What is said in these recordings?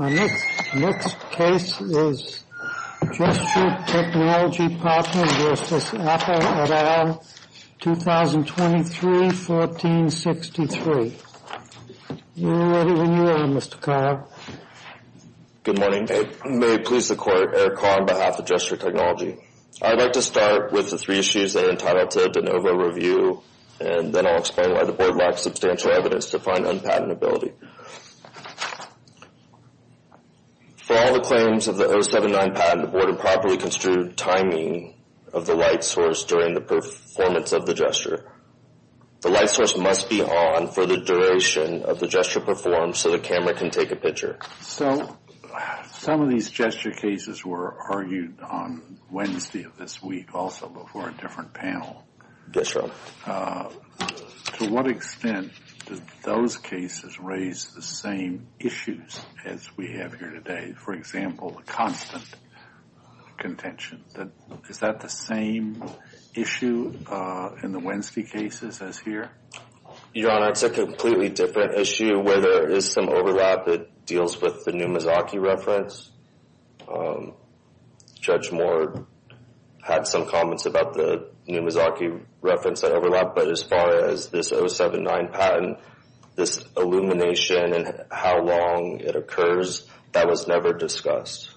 Our next case is Gesture Technology Partners v. Apple et al., 2023-1463. You're ready when you are, Mr. Carr. Good morning. May it please the Court, Eric Carr on behalf of Gesture Technology. I'd like to start with the three issues that are entitled to a de novo review, and then I'll explain why the board lacks substantial evidence to find unpatentability. For all the claims of the 079 patent, the board improperly construed timing of the light source during the performance of the gesture. The light source must be on for the duration of the gesture performed so the camera can take a picture. So some of these gesture cases were argued on Wednesday of this week, also before a different panel. Yes, Your Honor. To what extent did those cases raise the same issues as we have here today? For example, the constant contention. Is that the same issue in the Wednesday cases as here? Your Honor, it's a completely different issue where there is some overlap that deals with the Numazaki reference. Judge Moore had some comments about the Numazaki reference that overlapped, but as far as this 079 patent, this illumination and how long it occurs, that was never discussed.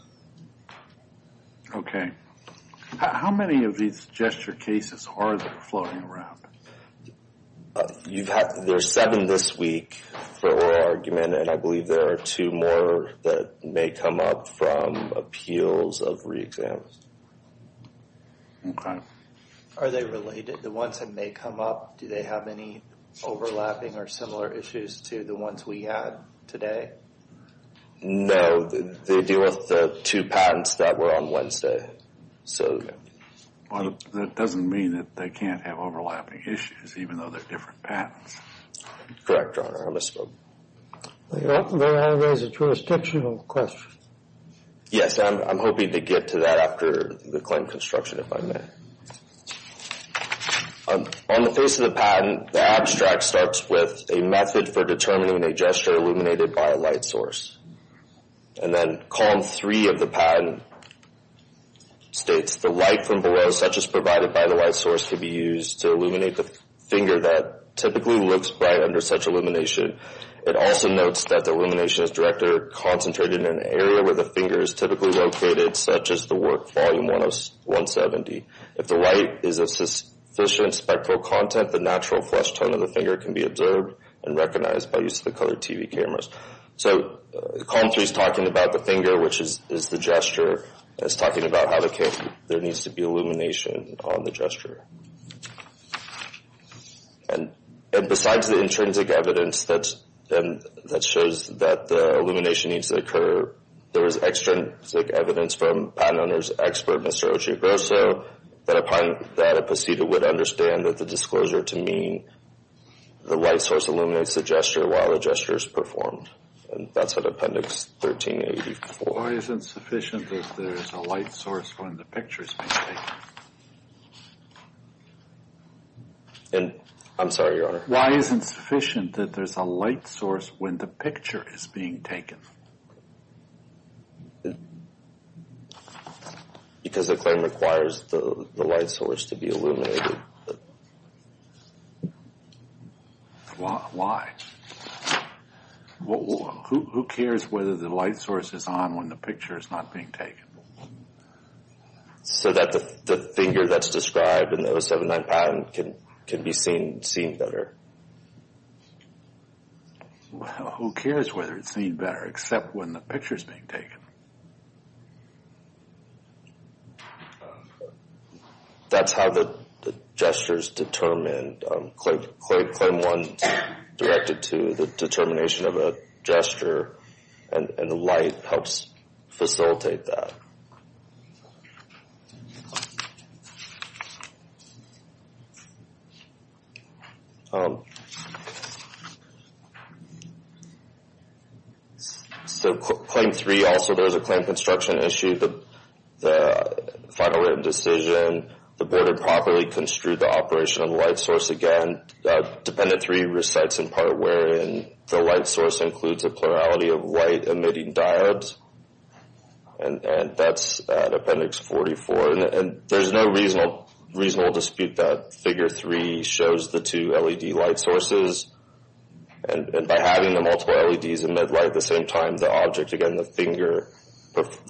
Okay. How many of these gesture cases are there floating around? There's seven this week for oral argument, and I believe there are two more that may come up from appeals of re-exam. Okay. Are they related? The ones that may come up, do they have any overlapping or similar issues to the ones we had today? No, they deal with the two patents that were on Wednesday. Okay. Well, that doesn't mean that they can't have overlapping issues, even though they're different patents. Correct, Your Honor. I misspoke. Well, you're asking me how to raise a jurisdictional question. Yes, I'm hoping to get to that after the claim construction, if I may. On the face of the patent, the abstract starts with a method for determining a gesture illuminated by a light source, and then column three of the patent states, the light from below, such as provided by the light source, could be used to illuminate the finger that typically looks bright under such illumination. It also notes that the illumination is directed or concentrated in an area where the finger is typically located, such as the work volume 170. If the light is of sufficient spectral content, the natural flesh tone of the finger can be observed and recognized by use of the colored TV cameras. So column three is talking about the finger, which is the gesture, and it's talking about how there needs to be illumination on the gesture. And besides the intrinsic evidence that shows that the illumination needs to occur, there is extrinsic evidence from patent owner's expert, Mr. Ochoa Grosso, that a proceeder would understand that the disclosure to mean the light source illuminates the gesture while the gesture is performed. And that's in appendix 1384. Why isn't sufficient that there's a light source when the picture is being taken? I'm sorry, Your Honor. Why isn't sufficient that there's a light source when the picture is being taken? Because the claim requires the light source to be illuminated. Why? Who cares whether the light source is on when the picture is not being taken? So that the finger that's described in the 079 patent can be seen better. Well, who cares whether it's seen better except when the picture is being taken? That's how the gesture is determined. Claim one is directed to the determination of a gesture, and the light helps facilitate that. So, claim three also, there's a claim construction issue. The final written decision, the board had properly construed the operation of light source again. Dependent three recites in part wherein the light source includes a plurality of white emitting diodes. And that's appendix 44. And there's no reasonable dispute that figure three shows the two LED light sources. And by having the multiple LEDs emit light at the same time, the object, again, the finger,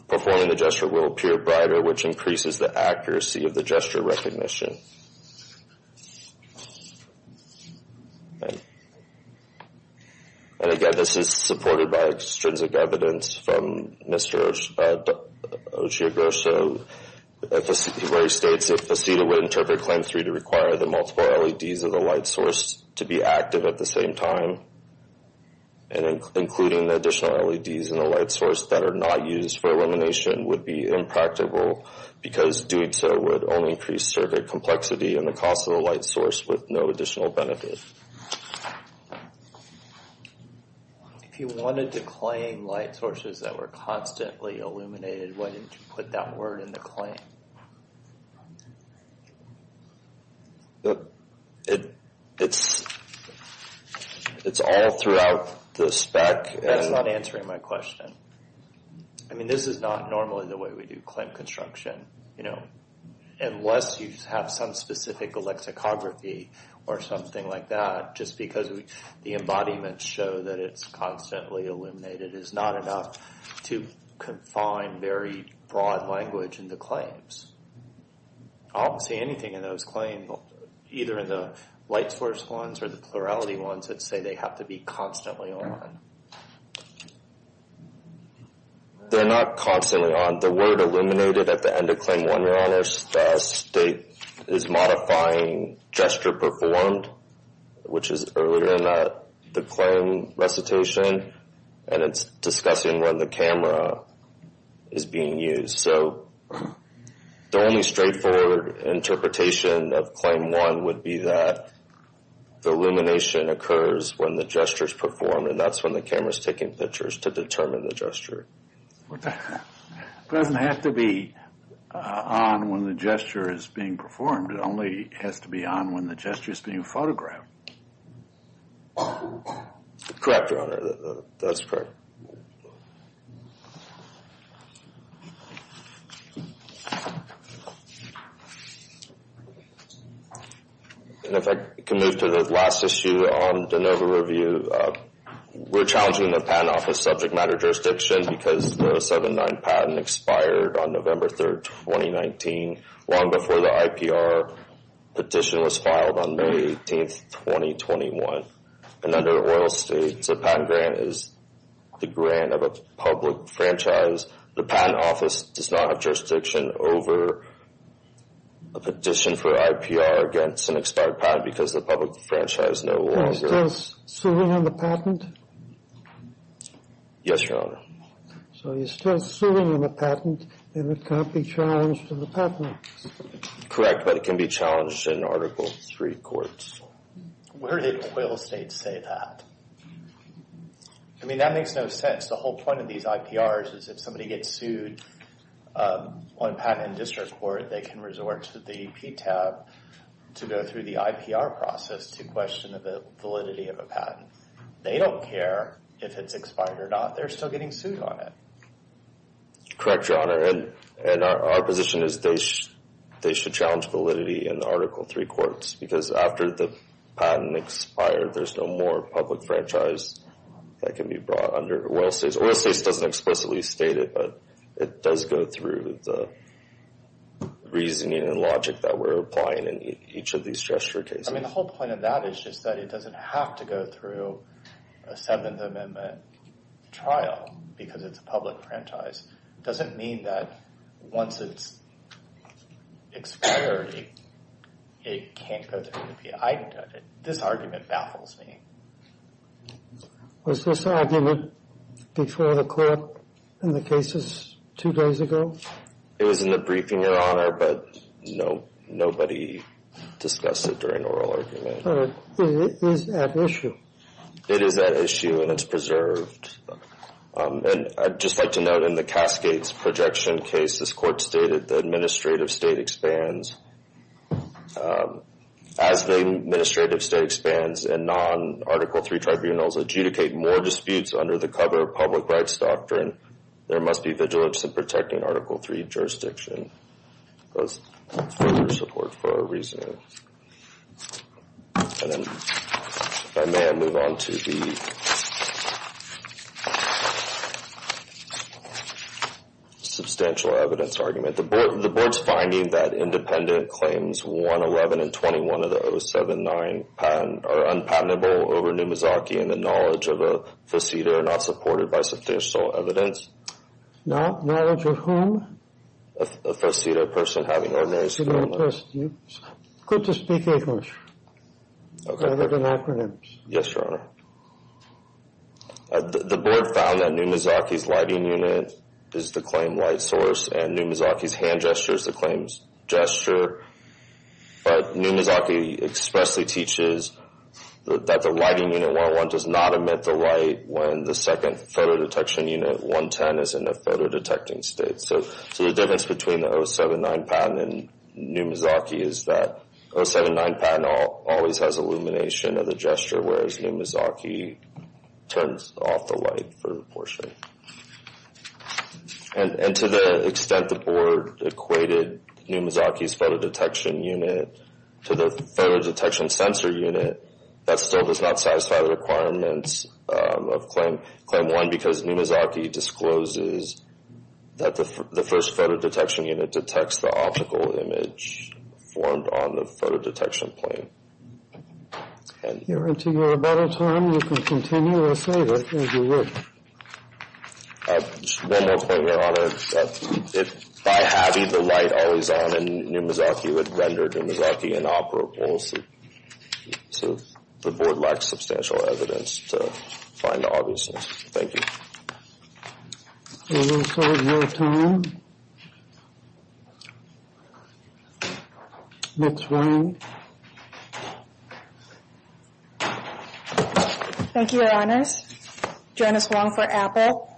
performing the gesture will appear brighter, which increases the accuracy of the gesture recognition. And again, this is supported by extrinsic evidence from Mr. Oshiga. So, where he states, if the CEDA would interpret claim three to require the multiple LEDs of the light source to be active at the same time, and including the additional LEDs in the light source that are not used for illumination would be impractical, because doing so would only increase circuit complexity and the cost of the light source with no additional benefit. If you wanted to claim light sources that were constantly illuminated, why didn't you put that word in the claim? It's all throughout the spec. That's not answering my question. I mean, this is not normally the way we do claim construction. Unless you have some specific lexicography or something like that, just because the embodiments show that it's constantly illuminated is not enough to confine very broad language in the claims. I don't see anything in those claims, either in the light source ones or the plurality ones, that say they have to be constantly on. They're not constantly on. The word illuminated at the end of claim one, Your Honors, the state is modifying gesture performed, which is earlier in the claim recitation, and it's discussing when the camera is being used. So, the only straightforward interpretation of claim one would be that the illumination occurs when the gesture is performed, and that's when the camera is taking pictures to determine the gesture. It doesn't have to be on when the gesture is being performed. It only has to be on when the gesture is being photographed. Correct, Your Honor. That's correct. And if I can move to the last issue on the NOVA review. We're challenging the Patent Office subject matter jurisdiction because the 7-9 patent expired on November 3rd, 2019, long before the IPR petition was filed on May 18th, 2021. And under oil states, a patent grant is the grant of a public franchise. The Patent Office does not have jurisdiction over a petition for IPR against an expired patent because the public franchise no longer... So, you're still suing on the patent? Yes, Your Honor. So, you're still suing on the patent, and it can't be challenged on the patent? Correct, but it can be challenged in Article III courts. Where did oil states say that? I mean, that makes no sense. The whole point of these IPRs is if somebody gets sued on patent in district court, they can resort to the PTAP to go through the IPR process to question the validity of a patent. They don't care if it's expired or not. They're still getting sued on it. Correct, Your Honor. And our position is they should challenge validity in the Article III courts because after the patent expires, there's no more public franchise that can be brought under oil states. Oil states doesn't explicitly state it, but it does go through the reasoning and logic that we're applying in each of these gesture cases. I mean, the whole point of that is just that it doesn't have to go through a Seventh Amendment trial because it's a public franchise. It doesn't mean that once it's expired, it can't go through the IPR. This argument baffles me. Was this argument before the court in the cases two days ago? It was in the briefing, Your Honor, but nobody discussed it during oral argument. But it is at issue. It is at issue and it's preserved. And I'd just like to note in the Cascades Projection case, this court stated the administrative state expands. As the administrative state expands and non-Article III tribunals adjudicate more disputes under the cover of public rights doctrine, there must be vigilance in protecting Article III jurisdiction. Those further support for our reasoning. And then if I may, I'll move on to the substantial evidence argument. The board's finding that independent claims 111 and 21 of the 079 are unpatentable over Numizaki and the knowledge of a faceto not supported by substantial evidence. Knowledge of whom? A faceto person having ordinary skill. It's good to speak English rather than acronyms. Yes, Your Honor. The board found that Numizaki's lighting unit is the claim light source and Numizaki's hand gesture is the claim gesture. But Numizaki expressly teaches that the lighting unit 111 does not emit the light when the second photo detection unit 110 is in a photo detecting state. So the difference between the 079 patent and Numizaki is that 079 patent always has illumination of the gesture whereas Numizaki turns off the light for the portion. And to the extent the board equated Numizaki's photo detection unit to the photo detection sensor unit, that still does not satisfy the requirements of Claim 1 Claim 1 because Numizaki discloses that the first photo detection unit detects the optical image formed on the photo detection plane. Your Honor, until you have a better term, you can continue to say that as you would. One more point, Your Honor. By having the light always on and Numizaki would render Numizaki inoperable, the board lacks substantial evidence to find the obviousness. Thank you. We're going to close your time. Next one. Thank you, Your Honors. Janice Wong for Apple.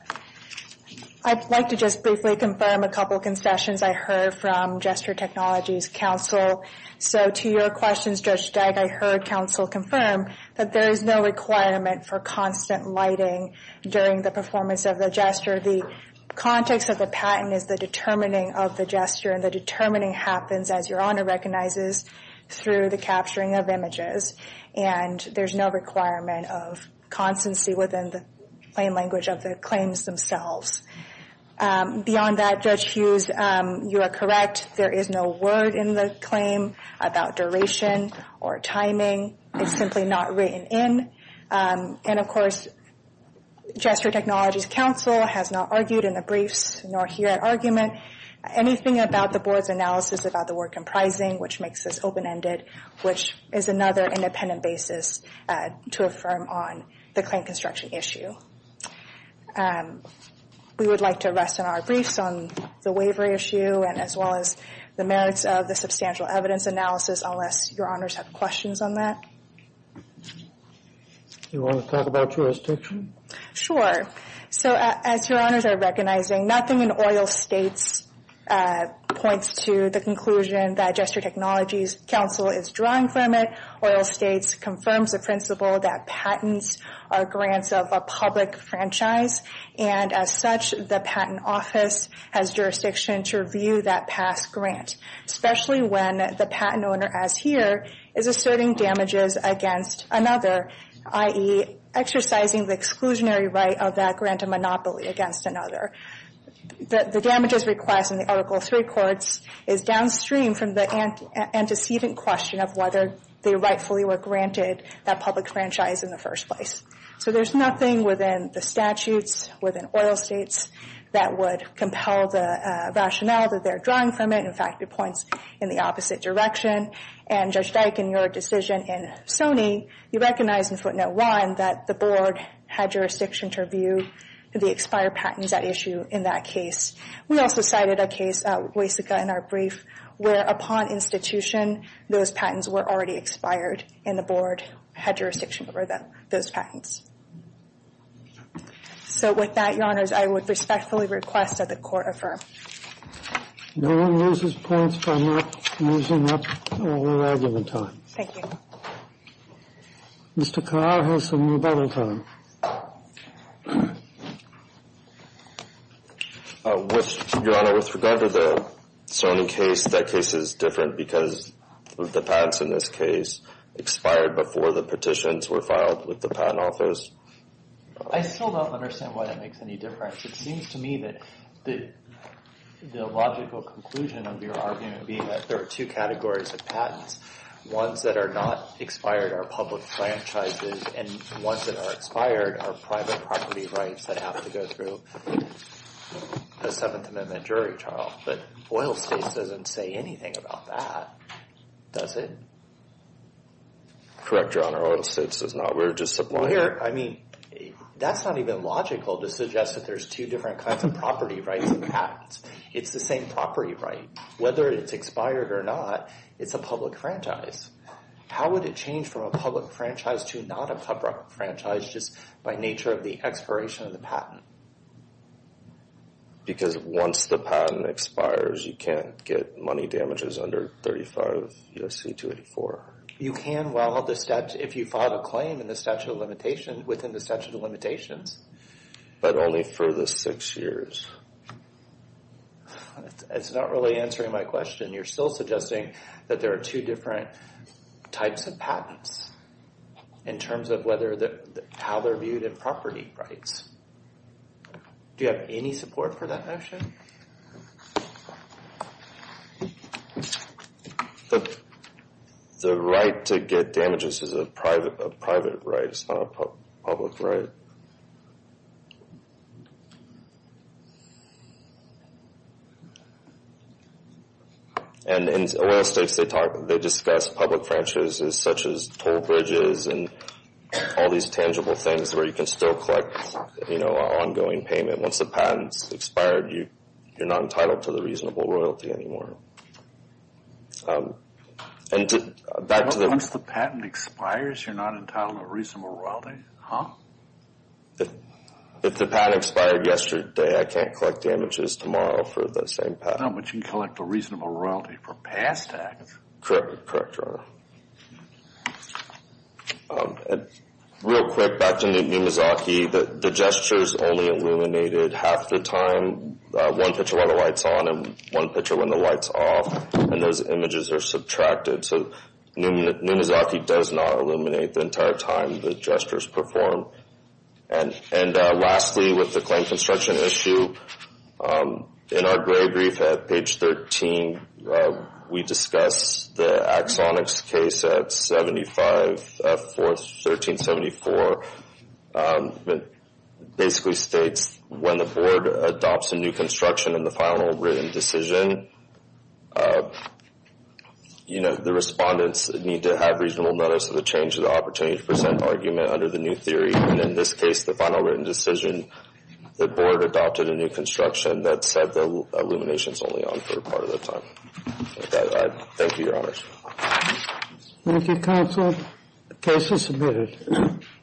I'd like to just briefly confirm a couple of concessions I heard from Gesture Technologies Council. So to your questions, Judge Steig, I heard Council confirm that there is no requirement for constant lighting during the performance of the gesture. The context of the patent is the determining of the gesture, and the determining happens, as Your Honor recognizes, through the capturing of images. And there's no requirement of constancy within the plain language of the claims themselves. Beyond that, Judge Hughes, you are correct. There is no word in the claim about duration or timing. It's simply not written in. And of course, Gesture Technologies Council has not argued in the briefs, nor here at argument, anything about the board's analysis about the work comprising, which makes this open-ended, which is another independent basis to affirm on the claim construction issue. We would like to rest in our briefs on the waivery issue, as well as the merits of the substantial evidence analysis, unless Your Honors have questions on that. Do you want to talk about jurisdiction? Sure. So as Your Honors are recognizing, nothing in oral states points to the conclusion that Gesture Technologies Council is drawing from it. Oral states confirms the principle that patents are grants of a public franchise, and as such, the patent office has jurisdiction to review that past grant, especially when the patent owner, as here, is asserting damages against another, i.e. exercising the exclusionary right of that grant to monopoly against another. The damages request in the Article III courts is downstream from the antecedent question of whether they rightfully were granted that public franchise in the first place. So there's nothing within the statutes, within oral states, that would compel the rationale that they're drawing from it. In fact, it points in the opposite direction. And Judge Dyke, in your decision in Sony, you recognize in footnote one that the board had jurisdiction to review the expired patents at issue in that case. We also cited a case, Waysica in our brief, where upon institution, those patents were already expired, and the board had jurisdiction over those patents. So with that, Your Honors, I would respectfully request that the Court affirm. No one loses points by not using up their argument time. Thank you. Mr. Carr has some rebuttal time. Your Honor, with regard to the Sony case, that case is different because the patents in this case expired before the petitions were filed with the Patent Office. I still don't understand why that makes any difference. It seems to me that the logical conclusion of your argument being that there are two categories of patents. Ones that are not expired are public franchises, and ones that are expired are private property rights that have to go through a Seventh Amendment jury trial. But oil states doesn't say anything about that, does it? Correct, Your Honor, oil states does not. We're just supplying. Well, here, I mean, that's not even logical to suggest that there's two different kinds of property rights and patents. It's the same property right. Whether it's expired or not, it's a public franchise. How would it change from a public franchise to not a public franchise just by nature of the expiration of the patent? Because once the patent expires, you can't get money damages under 35 U.S.C. 284. You can, if you file a claim within the statute of limitations. But only for the six years. It's not really answering my question. You're still suggesting that there are two different types of patents in terms of how they're viewed in property rights. Do you have any support for that notion? The right to get damages is a private right. It's not a public right. And in oil states, they discuss public franchises such as toll bridges and all these tangible things where you can still collect, you know, ongoing payment. Once the patent's expired, you're not entitled to the reasonable royalty anymore. And back to the... Once the patent expires, you're not entitled to reasonable royalty? Huh? If the patent expired yesterday, I can't collect damages tomorrow for the same patent. No, but you can collect a reasonable royalty for past acts. Correct, Your Honor. Real quick, back to Numizaki. The gestures only illuminated half the time. One picture while the light's on and one picture when the light's off. And those images are subtracted. So Numizaki does not illuminate the entire time the gestures perform. And lastly, with the claim construction issue, in our gray brief at page 13, we discuss the Axonix case at 75-4, 1374. It basically states when the board adopts a new construction in the final written decision, you know, the respondents need to have reasonable notice of the change in the opportunity to present an argument under the new theory. And in this case, the final written decision, the board adopted a new construction that said the illumination's only on for a part of the time. Thank you, Your Honor. Thank you, counsel. The case is submitted.